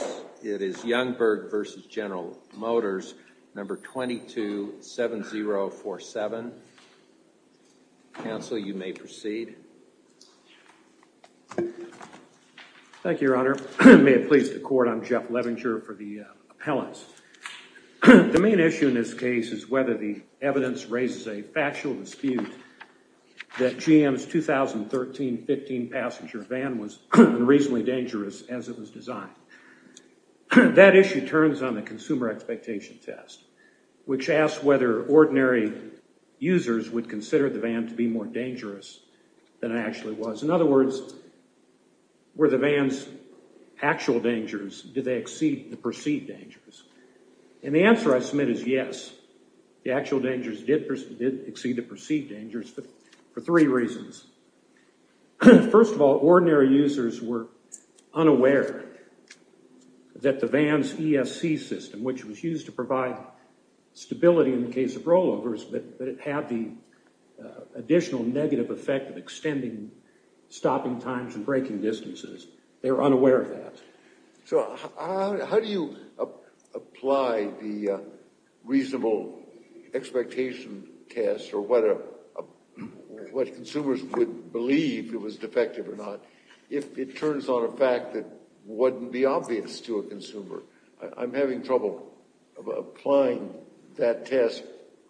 it is Youngberg v. General Motors number 227047. Counsel, you may proceed. Thank you, Your Honor. May it please the court, I'm Jeff Levinger for the appellants. The main issue in this case is whether the evidence raises a factual dispute that GM's 2013-15 passenger van was reasonably dangerous as it was designed. That issue turns on the consumer expectation test which asks whether ordinary users would consider the van to be more dangerous than it actually was. In other words, were the van's actual dangers, did they exceed the perceived dangers? And the answer I submit is yes, the actual dangers did exceed the perceived dangers for three reasons. First of all, ordinary users were unaware that the van's ESC system, which was used to provide stability in the case of rollovers, but it had the additional negative effect of extending stopping times and breaking distances. They were unaware of that. So how do you apply the reasonable expectation test or what consumers would believe it was defective or not if it turns on a fact that wouldn't be obvious to a consumer? I'm having trouble applying that test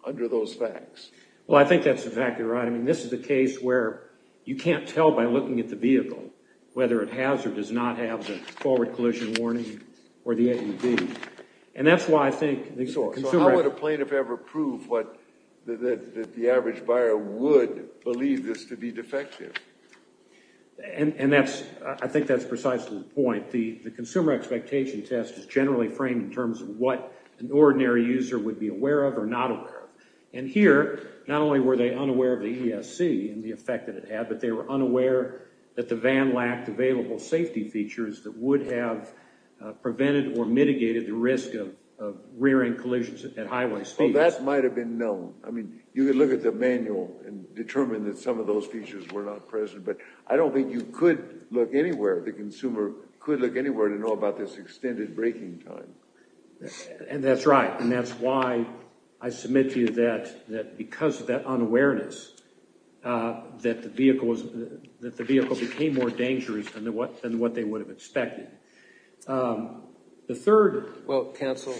under those facts. Well, I think that's exactly right. I mean, this is a case where you can't tell by looking at the vehicle whether it has or does not have the forward collision warning or the AED. And that's why I think the consumer... So how would a plaintiff ever prove what the average buyer would believe this to be defective? And that's, I think that's precisely the point. The consumer expectation test is generally framed in terms of what an ordinary user would be aware of or not aware of. And here, not only were they unaware of the ESC and the effect that it had, but they were unaware that the van lacked available safety features that would have prevented or mitigated the risk of rearing collisions at highway speeds. Well, that might have been known. I mean, you could look at the manual and determine that some of those features were not present, but I don't think you could look anywhere. The consumer could look anywhere to know about this extended braking time. And that's right. And that's why I submit to you that because of that unawareness, that the vehicle became more dangerous than what they would have expected. The third... Well, counsel,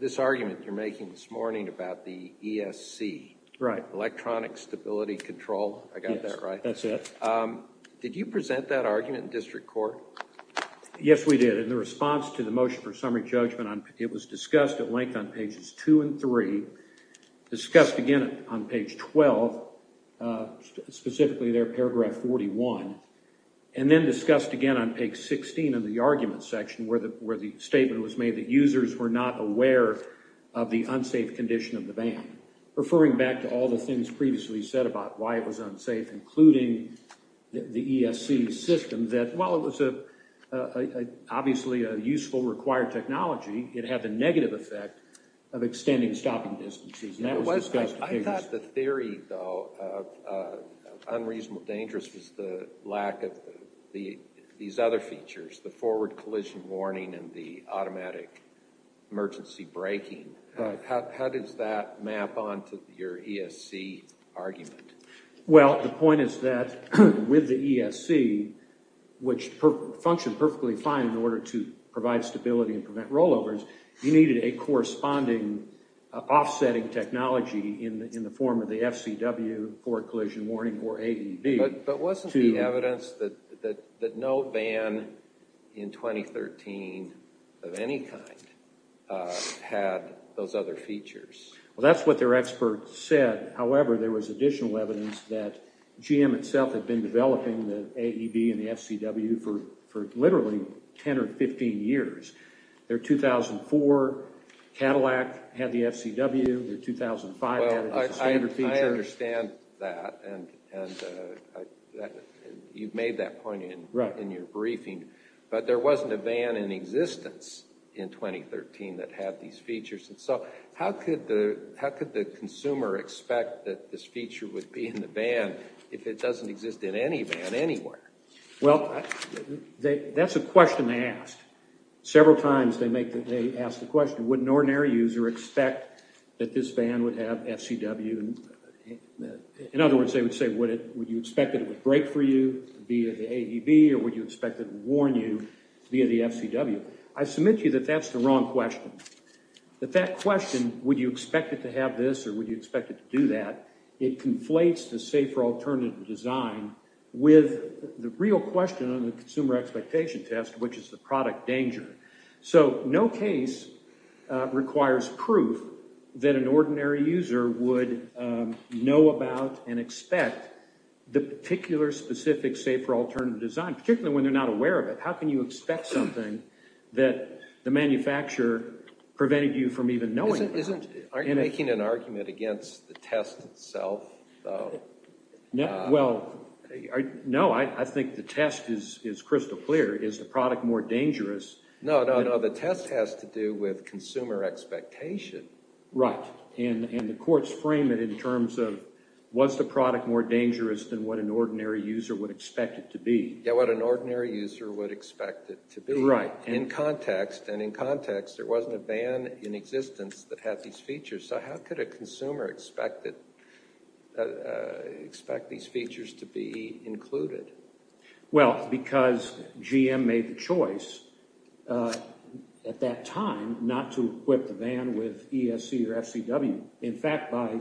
this argument you're making this morning about the ESC... Right. Electronic Stability Control. I got that right? Yes, that's it. Did you present that argument in district court? Yes, we did. In the response to the motion for summary judgment, it was discussed at length on pages 2 and 3, discussed again on page 12, specifically there, paragraph 41, and then discussed again on page 16 of the argument section where the statement was made that users were not aware of the unsafe condition of the van, referring back to all the things previously said about why it was unsafe, including the ESC system, that while it was obviously a useful, required technology, it had the negative effect of extending stopping distances. I thought the theory, though, of unreasonable dangerous was the lack of these other features, the forward collision warning and the automatic emergency braking. How does that map onto your ESC argument? Well, the point is that with the ESC, which functioned perfectly fine in order to provide stability and prevent rollovers, you needed a corresponding offsetting technology in the form of the FCW, forward collision warning, or ADB... But wasn't the evidence that no van in 2013 of any kind had those other features? Well, that's what their experts said. However, there was additional evidence that GM itself had been developing the ADB and the FCW for literally 10 or 15 years. Their 2004 Cadillac had the FCW, their 2005... Well, I understand that, and you've made that point in your briefing, but there wasn't a van in existence in 2013 that had these features. And so how could the consumer expect that this feature would be in the van if it doesn't exist in any van anywhere? Well, that's a question they asked. Several times they asked the question, would an ordinary user expect that this van would have FCW? In other words, they would say, would you expect that it would brake for you via the ADB, or would you expect it to warn you via the FCW? I submit to you that that's the wrong question. That question, would you expect it to have this or would you expect it to do that, it conflates the safer alternative design with the real question on the consumer expectation test, which is the product danger. So no case requires proof that an ordinary user would know about and expect the particular specific safer alternative design, particularly when they're not aware of it. How can you expect something that the manufacturer prevented you from even knowing about? Aren't you making an argument against the test itself? Well, no, I think the test is crystal clear. Is the product more dangerous? No, no, no, the test has to do with consumer expectation. Right, and the courts frame it in terms of, was the product more dangerous than what an ordinary user would expect it to be? Yeah, what an ordinary user would expect it to be. Right. In context, and in context, there wasn't a van in existence that had these features, so how could a consumer expect these features to be included? Well, because GM made the choice at that time not to equip the van with ESC or FCW. In fact, by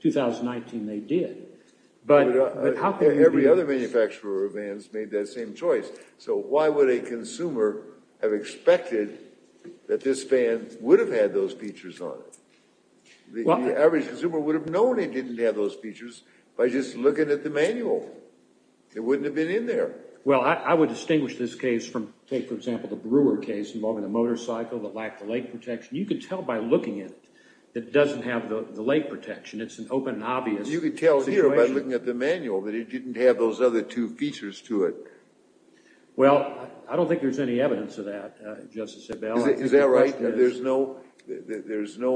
2019 they did. Every other manufacturer of vans made that same choice, so why would a consumer have expected that this van would have had those features on it? The average consumer would have known it didn't have those features by just looking at the manual. It wouldn't have been in there. Well, I would distinguish this case from, say, for example, the Brewer case involving the motorcycle that lacked the lake protection. You could tell by looking at it that it doesn't have the lake protection. It's an open and obvious situation. You could tell here by looking at the manual that it didn't have those other two features to it. Well, I don't think there's any evidence of that, Justice Abello. Is that right? There's no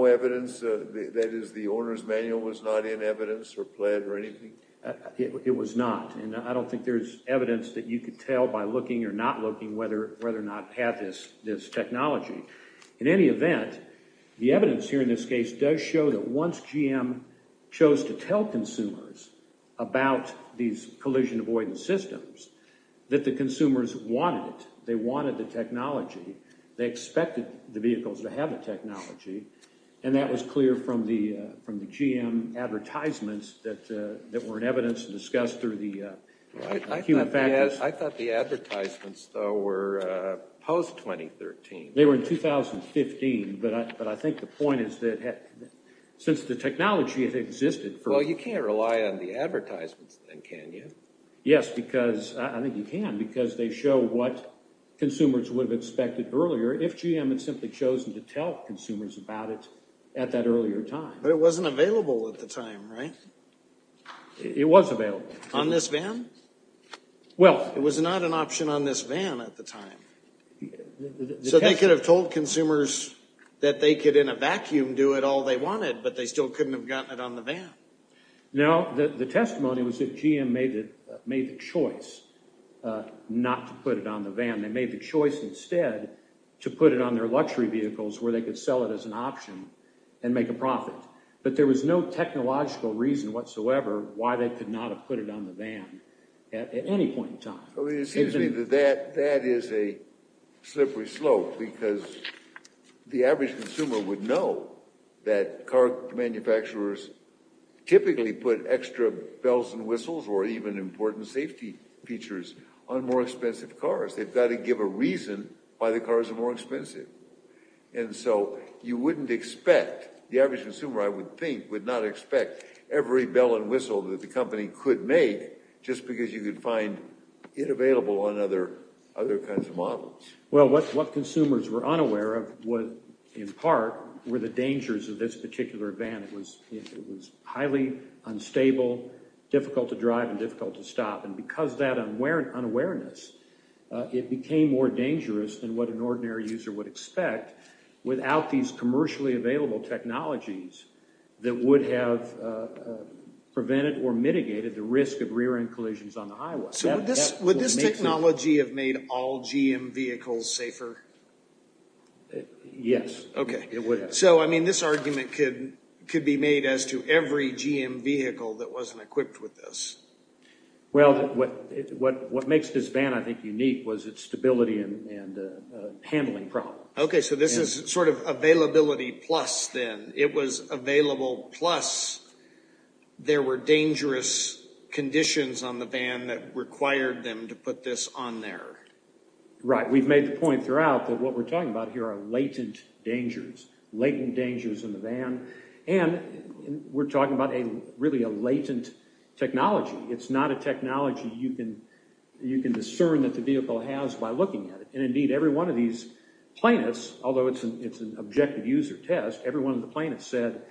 evidence? That is, the owner's manual was not in evidence or pled or anything? It was not, and I don't think there's evidence that you could tell by looking or not looking whether or not it had this technology. In any event, the evidence here in this case does show that once GM chose to tell consumers about these collision avoidance systems that the consumers wanted it. They wanted the technology. They expected the vehicles to have the technology, and that was clear from the GM advertisements that were in evidence and discussed through the human factors. I thought the advertisements, though, were post-2013. They were in 2015, but I think the point is that since the technology has existed for... Well, you can't rely on the advertisements then, can you? Yes, because I think you can because they show what consumers would have expected earlier if GM had simply chosen to tell consumers about it at that earlier time. But it wasn't available at the time, right? It was available. On this van? Well... It was not an option on this van at the time. So they could have told consumers that they could in a vacuum do it all they wanted, but they still couldn't have gotten it on the van. No, the testimony was that GM made the choice not to put it on the van. They made the choice instead to put it on their luxury vehicles where they could sell it as an option and make a profit. But there was no technological reason whatsoever why they could not have put it on the van at any point in time. It seems to me that that is a slippery slope because the average consumer would know that car manufacturers typically put extra bells and whistles or even important safety features on more expensive cars. They've got to give a reason why the cars are more expensive. And so you wouldn't expect, the average consumer, I would think, would not expect every bell and whistle that the company could make just because you could find it available on other kinds of models. Well, what consumers were unaware of, in part, were the dangers of this particular van. It was highly unstable, difficult to drive, and difficult to stop. And because of that unawareness, it became more dangerous than what an ordinary user would expect without these commercially available technologies that would have prevented or mitigated the risk of rear-end collisions on the highway. So would this technology have made all GM vehicles safer? Yes. Okay. It would have. So, I mean, this argument could be made as to every GM vehicle that wasn't equipped with this. Well, what makes this van, I think, unique was its stability and handling problem. Okay, so this is sort of availability plus then. It was available plus there were dangerous conditions on the van that required them to put this on there. Right. We've made the point throughout that what we're talking about here are latent dangers, latent dangers in the van. And we're talking about really a latent technology. It's not a technology you can discern that the vehicle has by looking at it. And, indeed, every one of these plaintiffs, although it's an objective user test, every one of the plaintiffs said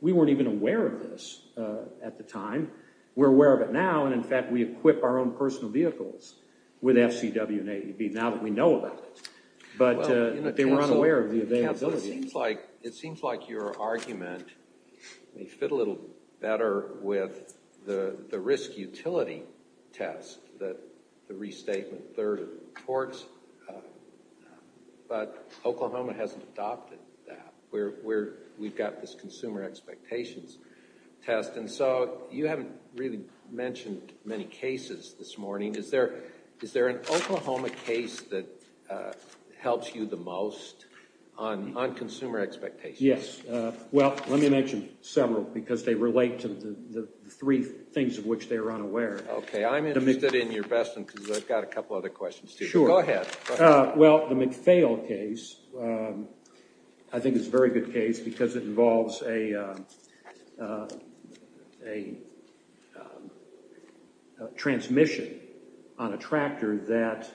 we weren't even aware of this at the time. We're aware of it now, and, in fact, we equip our own personal vehicles with FCW and AEB now that we know about it. But they were unaware of the availability. It seems like your argument may fit a little better with the risk utility test, the restatement third of the courts, but Oklahoma hasn't adopted that. We've got this consumer expectations test. And so you haven't really mentioned many cases this morning. Is there an Oklahoma case that helps you the most on consumer expectations? Yes. Well, let me mention several because they relate to the three things of which they are unaware. Okay. I'm interested in your best one because I've got a couple other questions, too. Sure. Go ahead. Well, the McPhail case, I think it's a very good case because it involves a transmission on a tractor that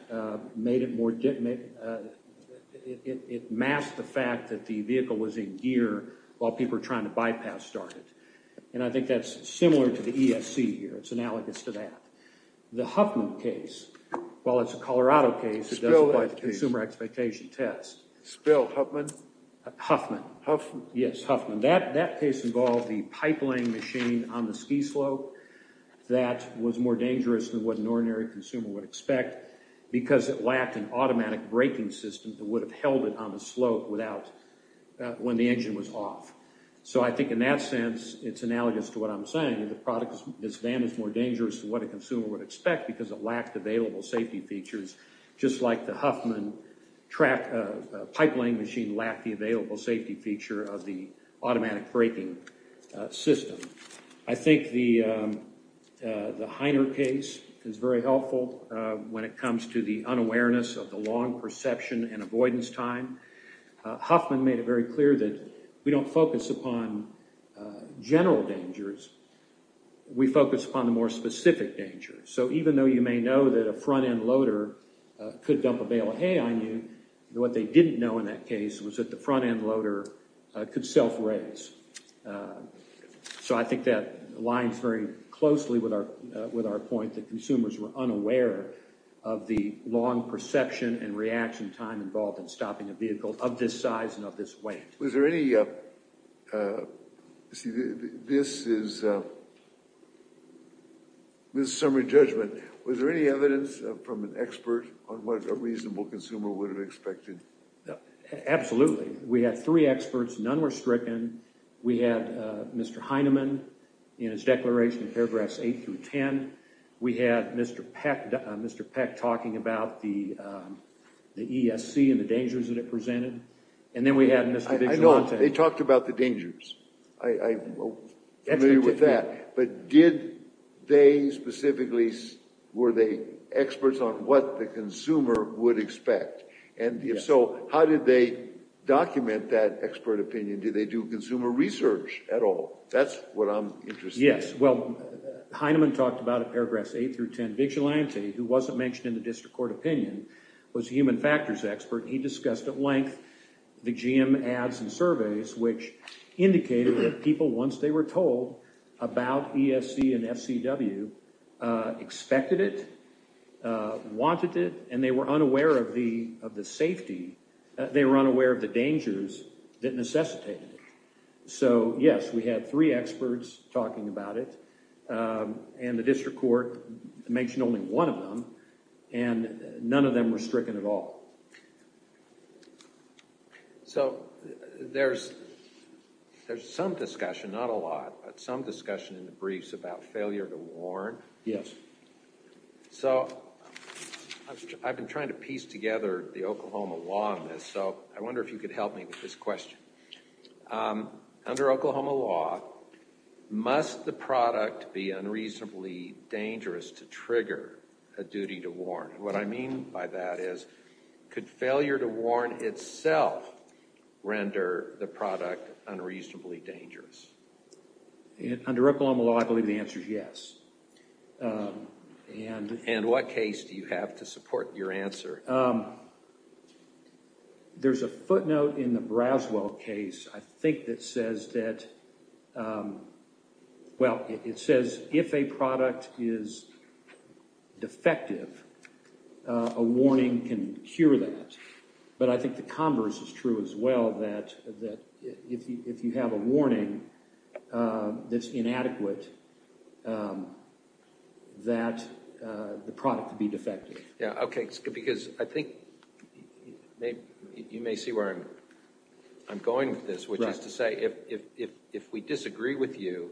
made it more difficult. It masked the fact that the vehicle was in gear while people were trying to bypass start it. And I think that's similar to the ESC here. It's analogous to that. The Huffman case, while it's a Colorado case, it doesn't apply to the consumer expectation test. Spill, Huffman? Huffman. Huffman? Yes, Huffman. That case involved the pipeline machine on the ski slope that was more dangerous than what an ordinary consumer would expect because it lacked an automatic braking system that would have held it on the slope when the engine was off. So I think in that sense, it's analogous to what I'm saying. The product is more dangerous than what a consumer would expect because it lacked available safety features, just like the Huffman pipeline machine lacked the available safety feature of the automatic braking system. I think the Heiner case is very helpful when it comes to the unawareness of the long perception and avoidance time. Huffman made it very clear that we don't focus upon general dangers. We focus upon the more specific dangers. So even though you may know that a front-end loader could dump a bale of hay on you, what they didn't know in that case was that the front-end loader could self-raise. So I think that aligns very closely with our point that consumers were unaware of the long perception and reaction time involved in stopping a vehicle of this size and of this weight. Was there any evidence from an expert on what a reasonable consumer would have expected? Absolutely. We had three experts. None were stricken. We had Mr. Heineman in his declaration in paragraphs 8 through 10. We had Mr. Peck talking about the ESC and the dangers that it presented. And then we had Mr. Vigilante. I know. They talked about the dangers. I'm familiar with that. But were they experts on what the consumer would expect? Yes. So how did they document that expert opinion? Did they do consumer research at all? That's what I'm interested in. Yes. Well, Heineman talked about it in paragraphs 8 through 10. Vigilante, who wasn't mentioned in the district court opinion, was a human factors expert. He discussed at length the GM ads and surveys, which indicated that people, once they were told about ESC and FCW, expected it, wanted it, and they were unaware of the dangers that necessitated it. So, yes, we had three experts talking about it. And the district court mentioned only one of them. And none of them were stricken at all. So there's some discussion, not a lot, but some discussion in the briefs about failure to warn. Yes. So I've been trying to piece together the Oklahoma law on this, so I wonder if you could help me with this question. Under Oklahoma law, must the product be unreasonably dangerous to trigger a duty to warn? What I mean by that is, could failure to warn itself render the product unreasonably dangerous? Under Oklahoma law, I believe the answer is yes. And what case do you have to support your answer? There's a footnote in the Braswell case, I think, that says that, well, it says if a product is defective, a warning can cure that. But I think the converse is true as well, that if you have a warning that's inadequate, that the product could be defective. Yeah, OK, because I think you may see where I'm going with this, which is to say, if we disagree with you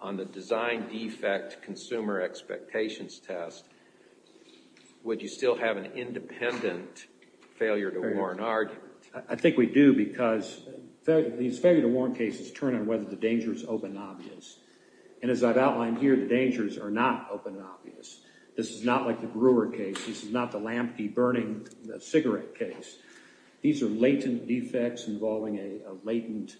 on the design defect consumer expectations test, would you still have an independent failure to warn argument? I think we do, because these failure to warn cases turn on whether the danger is open and obvious. And as I've outlined here, the dangers are not open and obvious. This is not like the Brewer case. This is not the lampy burning cigarette case. These are latent defects involving a latent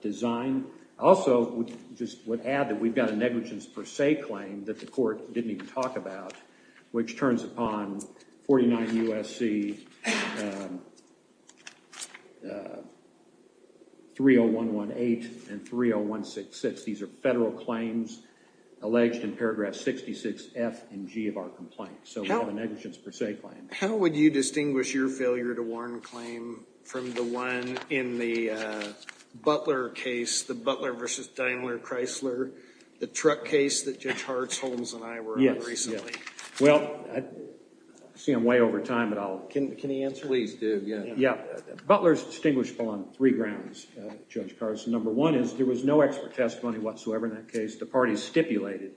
design. Also, just would add that we've got a negligence per se claim that the court didn't even talk about, which turns upon 49 U.S.C. 30118 and 30166. These are federal claims alleged in paragraph 66F and G of our complaint. So we have a negligence per se claim. How would you distinguish your failure to warn claim from the one in the Butler case, the Butler versus Daimler Chrysler, the truck case that Judge Hartz, Holmes, and I were on recently? Well, I see I'm way over time, but I'll, can he answer? Please do, yeah. Yeah, Butler's distinguishable on three grounds, Judge Carson. Number one is there was no expert testimony whatsoever in that case. The parties stipulated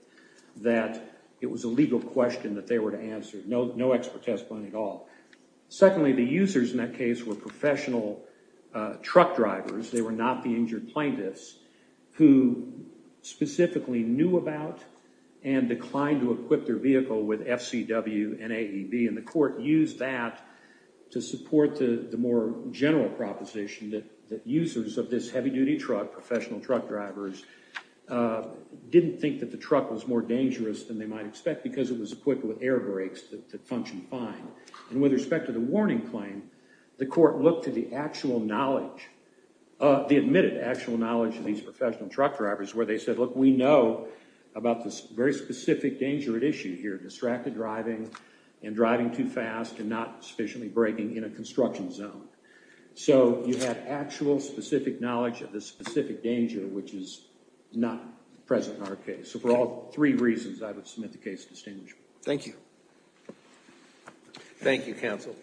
that it was a legal question that they were to answer. No expert testimony at all. Secondly, the users in that case were professional truck drivers. They were not the injured plaintiffs who specifically knew about and declined to equip their vehicle with FCW and AEB. And the court used that to support the more general proposition that users of this heavy-duty truck, professional truck drivers, didn't think that the truck was more dangerous than they might expect because it was equipped with air brakes that functioned fine. And with respect to the warning claim, the court looked to the actual knowledge, the admitted actual knowledge of these professional truck drivers where they said, look, we know about this very specific danger at issue here, distracted driving and driving too fast and not sufficiently braking in a construction zone. So you had actual specific knowledge of this specific danger, which is not present in our case. So for all three reasons, I would submit the case to distinguishable. Thank you. Thank you, counsel.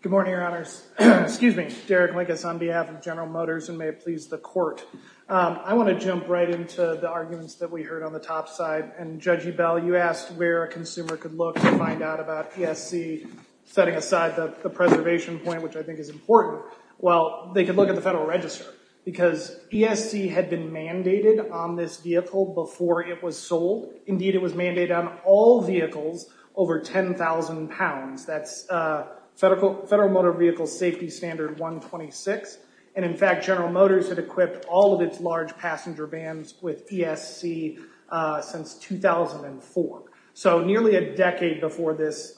Good morning, Your Honors. Excuse me. Derek Linkus on behalf of General Motors and may it please the court. I want to jump right into the arguments that we heard on the top side. And Judge Ebell, you asked where a consumer could look to find out about ESC, setting aside the preservation point, which I think is important. Well, they could look at the Federal Register because ESC had been mandated on this vehicle before it was sold. Indeed, it was mandated on all vehicles over 10,000 pounds. That's Federal Motor Vehicle Safety Standard 126. And in fact, General Motors had equipped all of its large passenger vans with ESC since 2004. So nearly a decade before this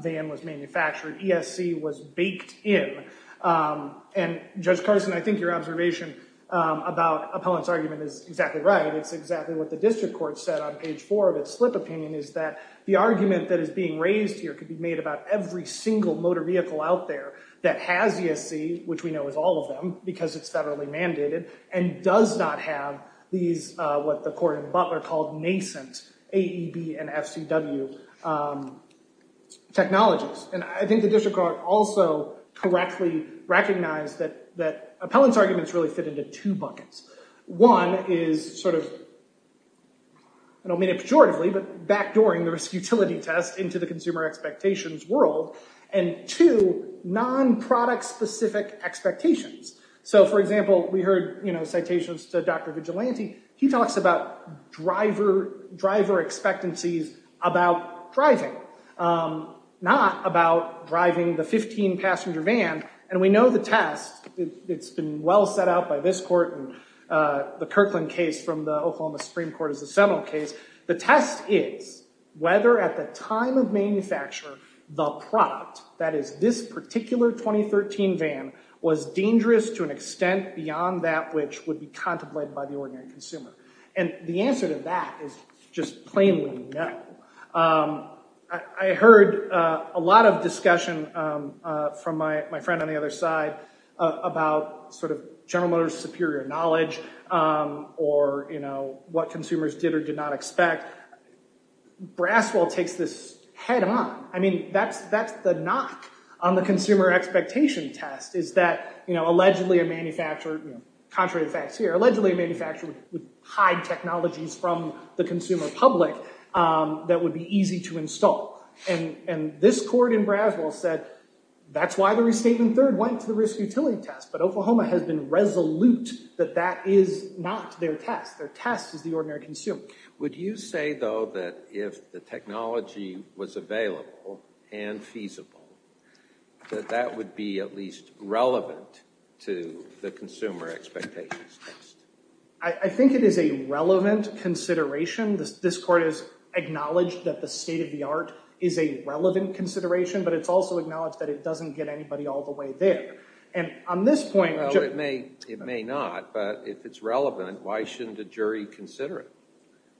van was manufactured, ESC was baked in. And Judge Carson, I think your observation about Appellant's argument is exactly right. It's exactly what the district court said on page four of its slip opinion, is that the argument that is being raised here could be made about every single motor vehicle out there that has ESC, which we know is all of them because it's federally mandated, and does not have these, what the court in Butler called nascent AEB and FCW technologies. And I think the district court also correctly recognized that Appellant's arguments really fit into two buckets. One is sort of, I don't mean it pejoratively, but backdooring the risk utility test into the consumer expectations world. And two, non-product specific expectations. So, for example, we heard, you know, citations to Dr. Vigilante. He talks about driver expectancies about driving, not about driving the 15 passenger van. And we know the test, it's been well set out by this court, and the Kirkland case from the Oklahoma Supreme Court is a seminal case. The test is whether at the time of manufacture, the product, that is this particular 2013 van, was dangerous to an extent beyond that which would be contemplated by the ordinary consumer. And the answer to that is just plainly no. I heard a lot of discussion from my friend on the other side about sort of General Motors superior knowledge, or, you know, what consumers did or did not expect. Braswell takes this head on. I mean, that's the knock on the consumer expectation test is that, you know, allegedly a manufacturer, contrary to the facts here, allegedly a manufacturer would hide technologies from the consumer public that would be easy to install. And this court in Braswell said that's why the restatement third went to the risk utility test. But Oklahoma has been resolute that that is not their test. Their test is the ordinary consumer. Would you say, though, that if the technology was available and feasible, that that would be at least relevant to the consumer expectations test? I think it is a relevant consideration. This court has acknowledged that the state of the art is a relevant consideration, but it's also acknowledged that it doesn't get anybody all the way there. And on this point- Well, it may not, but if it's relevant, why shouldn't a jury consider it?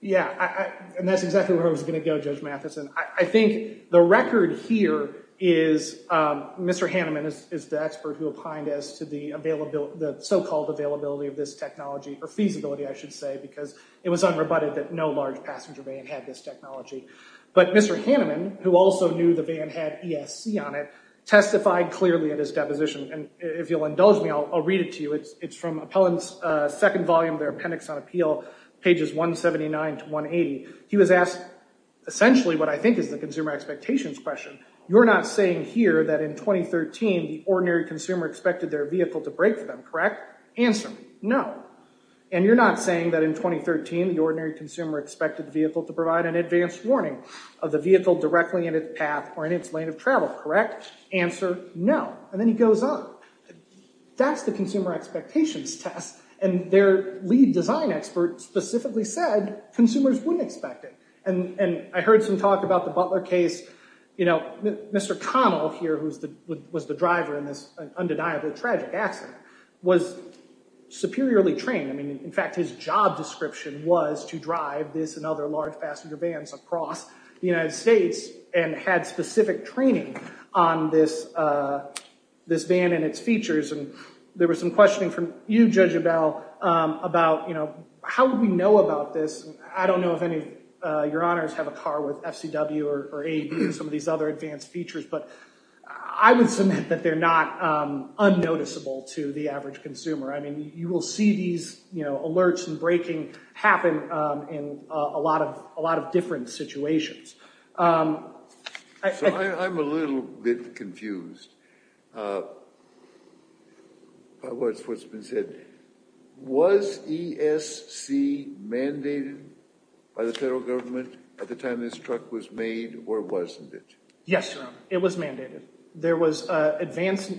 Yeah, and that's exactly where I was going to go, Judge Matheson. I think the record here is Mr. Hanneman is the expert who opined as to the so-called availability of this technology, or feasibility, I should say, because it was unrebutted that no large passenger van had this technology. But Mr. Hanneman, who also knew the van had ESC on it, testified clearly in his deposition. And if you'll indulge me, I'll read it to you. It's from Appellant's second volume of their Appendix on Appeal, pages 179 to 180. He was asked essentially what I think is the consumer expectations question. You're not saying here that in 2013 the ordinary consumer expected their vehicle to break for them, correct? Answer me, no. And you're not saying that in 2013 the ordinary consumer expected the vehicle to provide an advanced warning of the vehicle directly in its path or in its lane of travel, correct? Answer, no. And then he goes on. That's the consumer expectations test, and their lead design expert specifically said consumers wouldn't expect it. And I heard some talk about the Butler case. You know, Mr. Connell here, who was the driver in this undeniable tragic accident, was superiorly trained. I mean, in fact, his job description was to drive this and other large passenger vans across the United States and had specific training on this van and its features. And there was some questioning from you, Judge Abell, about, you know, how would we know about this? And I don't know if any of your honors have a car with FCW or AED and some of these other advanced features, but I would submit that they're not unnoticeable to the average consumer. I mean, you will see these, you know, alerts and braking happen in a lot of different situations. So I'm a little bit confused. What's been said, was ESC mandated by the federal government at the time this truck was made, or wasn't it? Yes, Your Honor, it was mandated. There was an advance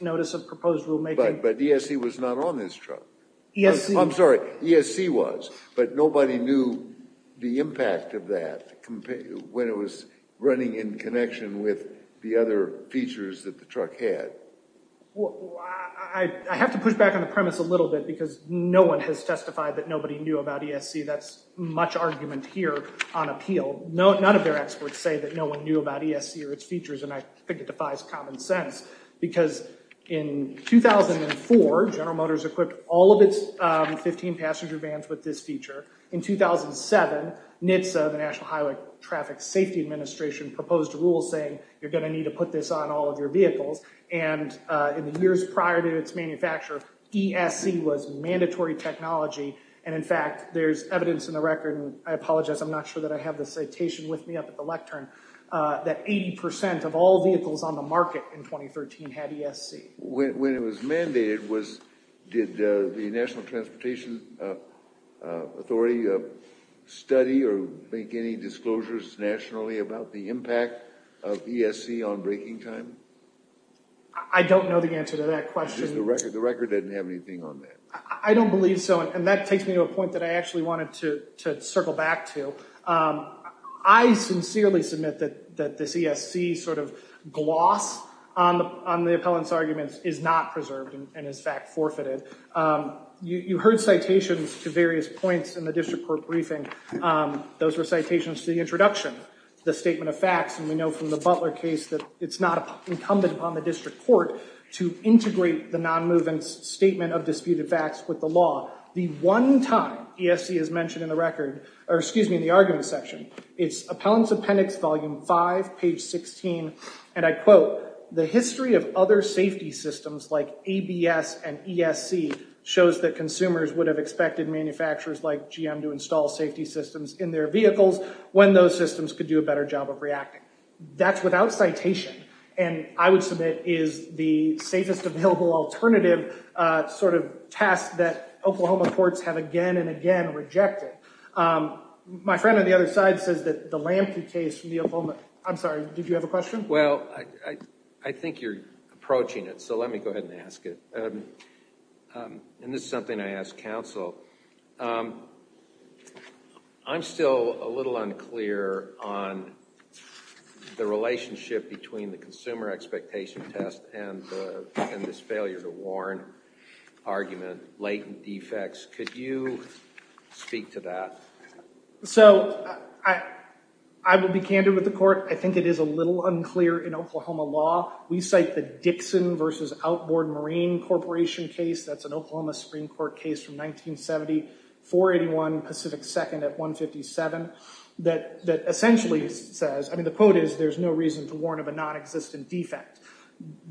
notice of proposed rulemaking. But ESC was not on this truck. I'm sorry, ESC was. But nobody knew the impact of that when it was running in connection with the other features that the truck had. Well, I have to push back on the premise a little bit because no one has testified that nobody knew about ESC. That's much argument here on appeal. None of their experts say that no one knew about ESC or its features, and I think it defies common sense. Because in 2004, General Motors equipped all of its 15 passenger vans with this feature. In 2007, NHTSA, the National Highway Traffic Safety Administration, proposed a rule saying you're going to need to put this on all of your vehicles. And in the years prior to its manufacture, ESC was mandatory technology. And in fact, there's evidence in the record, and I apologize, I'm not sure that I have the citation with me up at the lectern, that 80% of all vehicles on the market in 2013 had ESC. When it was mandated, did the National Transportation Authority study or make any disclosures nationally about the impact of ESC on braking time? I don't know the answer to that question. The record doesn't have anything on that. I don't believe so, and that takes me to a point that I actually wanted to circle back to. I sincerely submit that this ESC sort of gloss on the appellant's arguments is not preserved and is, in fact, forfeited. You heard citations to various points in the district court briefing. Those were citations to the introduction, the statement of facts, and we know from the Butler case that it's not incumbent upon the district court to integrate the non-movement statement of disputed facts with the law. The one time ESC is mentioned in the argument section, it's appellant's appendix, volume 5, page 16, and I quote, the history of other safety systems like ABS and ESC shows that consumers would have expected manufacturers like GM to install safety systems in their vehicles when those systems could do a better job of reacting. That's without citation, and I would submit is the safest available alternative sort of task that Oklahoma courts have again and again rejected. My friend on the other side says that the Lampe case from the Oklahoma—I'm sorry, did you have a question? Well, I think you're approaching it, so let me go ahead and ask it, and this is something I ask counsel. I'm still a little unclear on the relationship between the consumer expectation test and this failure to warn argument, latent defects. Could you speak to that? So I will be candid with the court. I think it is a little unclear in Oklahoma law. We cite the Dixon v. Outboard Marine Corporation case. That's an Oklahoma Supreme Court case from 1970, 481 Pacific 2nd at 157 that essentially says—I mean, the quote is there's no reason to warn of a nonexistent defect.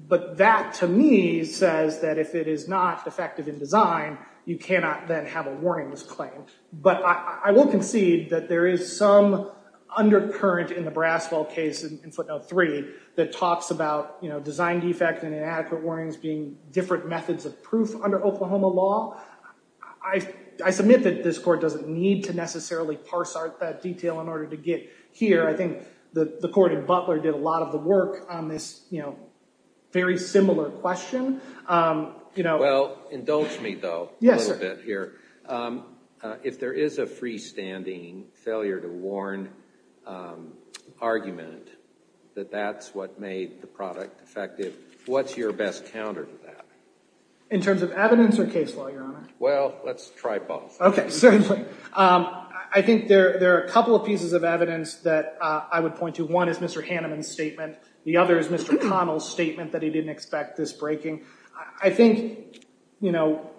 But that to me says that if it is not effective in design, you cannot then have a warningless claim. But I will concede that there is some undercurrent in the Braswell case in footnote 3 that talks about design defect and inadequate warnings being different methods of proof under Oklahoma law. I submit that this court doesn't need to necessarily parse out that detail in order to get here. I think the court in Butler did a lot of the work on this very similar question. Well, indulge me, though, a little bit here. If there is a freestanding failure to warn argument that that's what made the product effective, what's your best counter to that? In terms of evidence or case law, Your Honor? Well, let's try both. Okay, certainly. I think there are a couple of pieces of evidence that I would point to. One is Mr. Hanneman's statement. The other is Mr. Connell's statement that he didn't expect this breaking. I think, you know,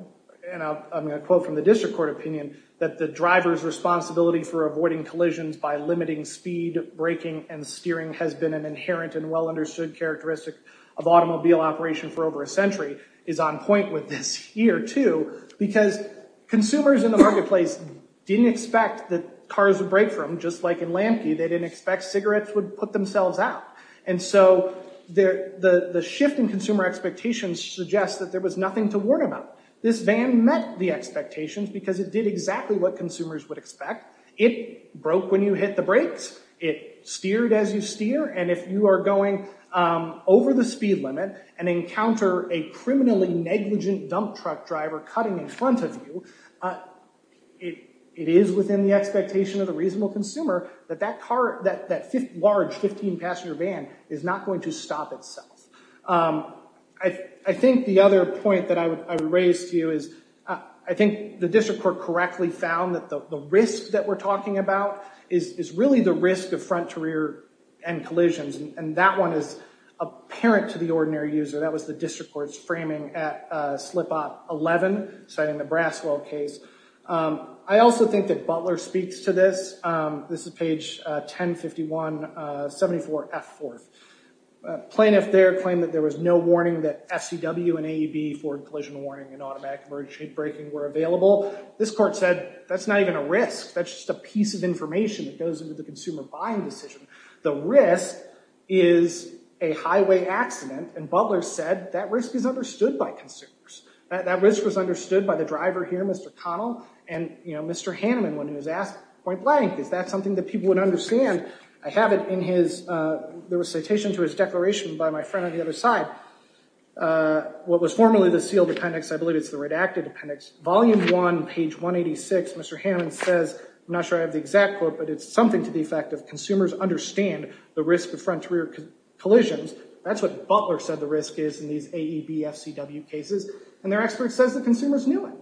and I'm going to quote from the district court opinion, that the driver's responsibility for avoiding collisions by limiting speed, braking, and steering has been an inherent and well-understood characteristic of automobile operation for over a century. It's on point with this here, too, because consumers in the marketplace didn't expect that cars would break for them, just like in Lamke. They didn't expect cigarettes would put themselves out. And so the shift in consumer expectations suggests that there was nothing to warn about. This van met the expectations because it did exactly what consumers would expect. It broke when you hit the brakes. It steered as you steer. And if you are going over the speed limit and encounter a criminally negligent dump truck driver cutting in front of you, it is within the expectation of the reasonable consumer that that large 15-passener van is not going to stop itself. I think the other point that I would raise to you is I think the district court correctly found that the risk that we're talking about is really the risk of front-to-rear end collisions. And that one is apparent to the ordinary user. That was the district court's framing at slip-off 11, citing the Braswell case. I also think that Butler speaks to this. This is page 1051, 74F4. Plaintiff there claimed that there was no warning that FCW and AEB forward collision warning and automatic emergency braking were available. This court said, that's not even a risk. That's just a piece of information that goes into the consumer buying decision. The risk is a highway accident. And Butler said, that risk is understood by consumers. That risk was understood by the driver here, Mr. Connell. And Mr. Hanneman, when he was asked, point blank, is that something that people would understand? I have it in his, there was a citation to his declaration by my friend on the other side. What was formerly the sealed appendix, I believe it's the redacted appendix. Volume 1, page 186, Mr. Hanneman says, I'm not sure I have the exact quote, but it's something to the effect of consumers understand the risk of front-to-rear collisions. That's what Butler said the risk is in these AEB-FCW cases. And their expert says the consumers knew it.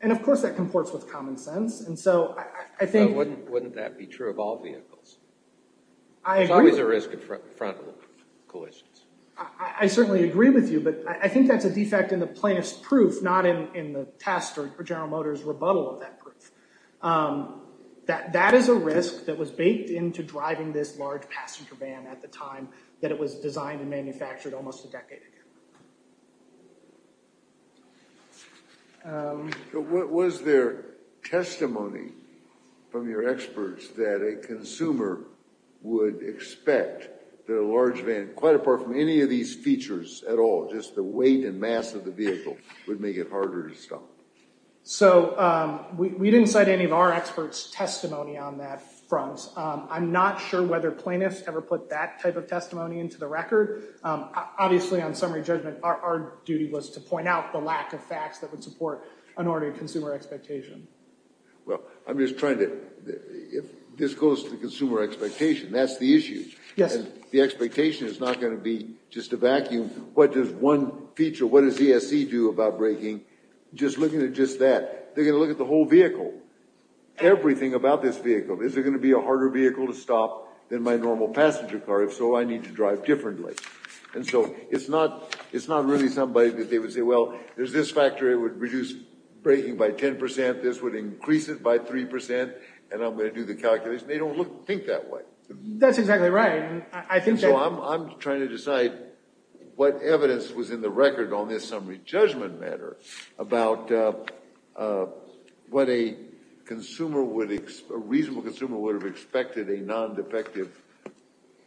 And of course that comports with common sense. Wouldn't that be true of all vehicles? There's always a risk of front-to-rear collisions. I certainly agree with you, but I think that's a defect in the plaintiff's proof, not in the test or General Motors' rebuttal of that proof. That is a risk that was baked into driving this large passenger van at the time that it was designed and manufactured almost a decade ago. Was there testimony from your experts that a consumer would expect that a large van, quite apart from any of these features at all, just the weight and mass of the vehicle, would make it harder to stop? So, we didn't cite any of our experts' testimony on that front. I'm not sure whether plaintiffs ever put that type of testimony into the record. Obviously, on summary judgment, our duty was to point out the lack of facts that would support an ordered consumer expectation. Well, I'm just trying to – if this goes to consumer expectation, that's the issue. Yes. The expectation is not going to be just a vacuum. What does one feature, what does ESC do about braking? Just looking at just that, they're going to look at the whole vehicle, everything about this vehicle. Is it going to be a harder vehicle to stop than my normal passenger car? If so, I need to drive differently. And so, it's not really somebody that they would say, well, there's this factor that would reduce braking by 10%, this would increase it by 3%, and I'm going to do the calculations. They don't think that way. That's exactly right. I'm trying to decide what evidence was in the record on this summary judgment matter about what a reasonable consumer would have expected a non-defective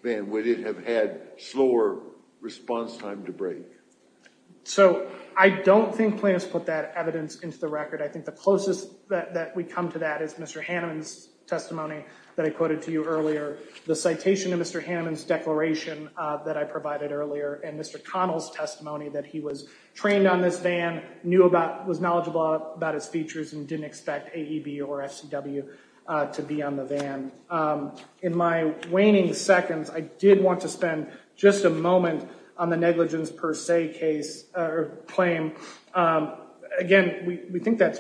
van. Would it have had slower response time to brake? So, I don't think plaintiffs put that evidence into the record. I think the closest that we come to that is Mr. Hanneman's testimony that I quoted to you earlier. The citation of Mr. Hanneman's declaration that I provided earlier and Mr. Connell's testimony that he was trained on this van, knew about, was knowledgeable about its features, and didn't expect AEB or FCW to be on the van. In my waning seconds, I did want to spend just a moment on the negligence per se claim. Again, we think that's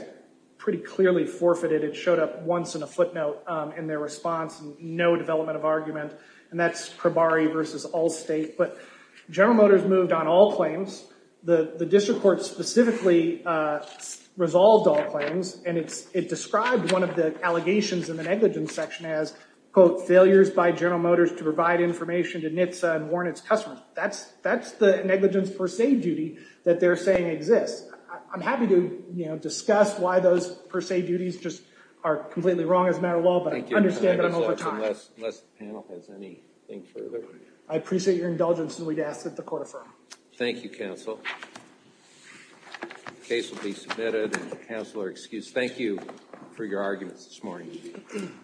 pretty clearly forfeited. It showed up once in a footnote in their response, no development of argument, and that's Probari v. Allstate. But General Motors moved on all claims. The district court specifically resolved all claims, and it described one of the allegations in the negligence section as, quote, failures by General Motors to provide information to NHTSA and warn its customers. That's the negligence per se duty that they're saying exists. I'm happy to discuss why those per se duties just are completely wrong as a matter of law, but I understand them all the time. Thank you, Mr. Anderson, unless the panel has anything further. I appreciate your indulgence, and we'd ask that the court affirm. Thank you, counsel. The case will be submitted, and counsel are excused. Thank you for your arguments this morning.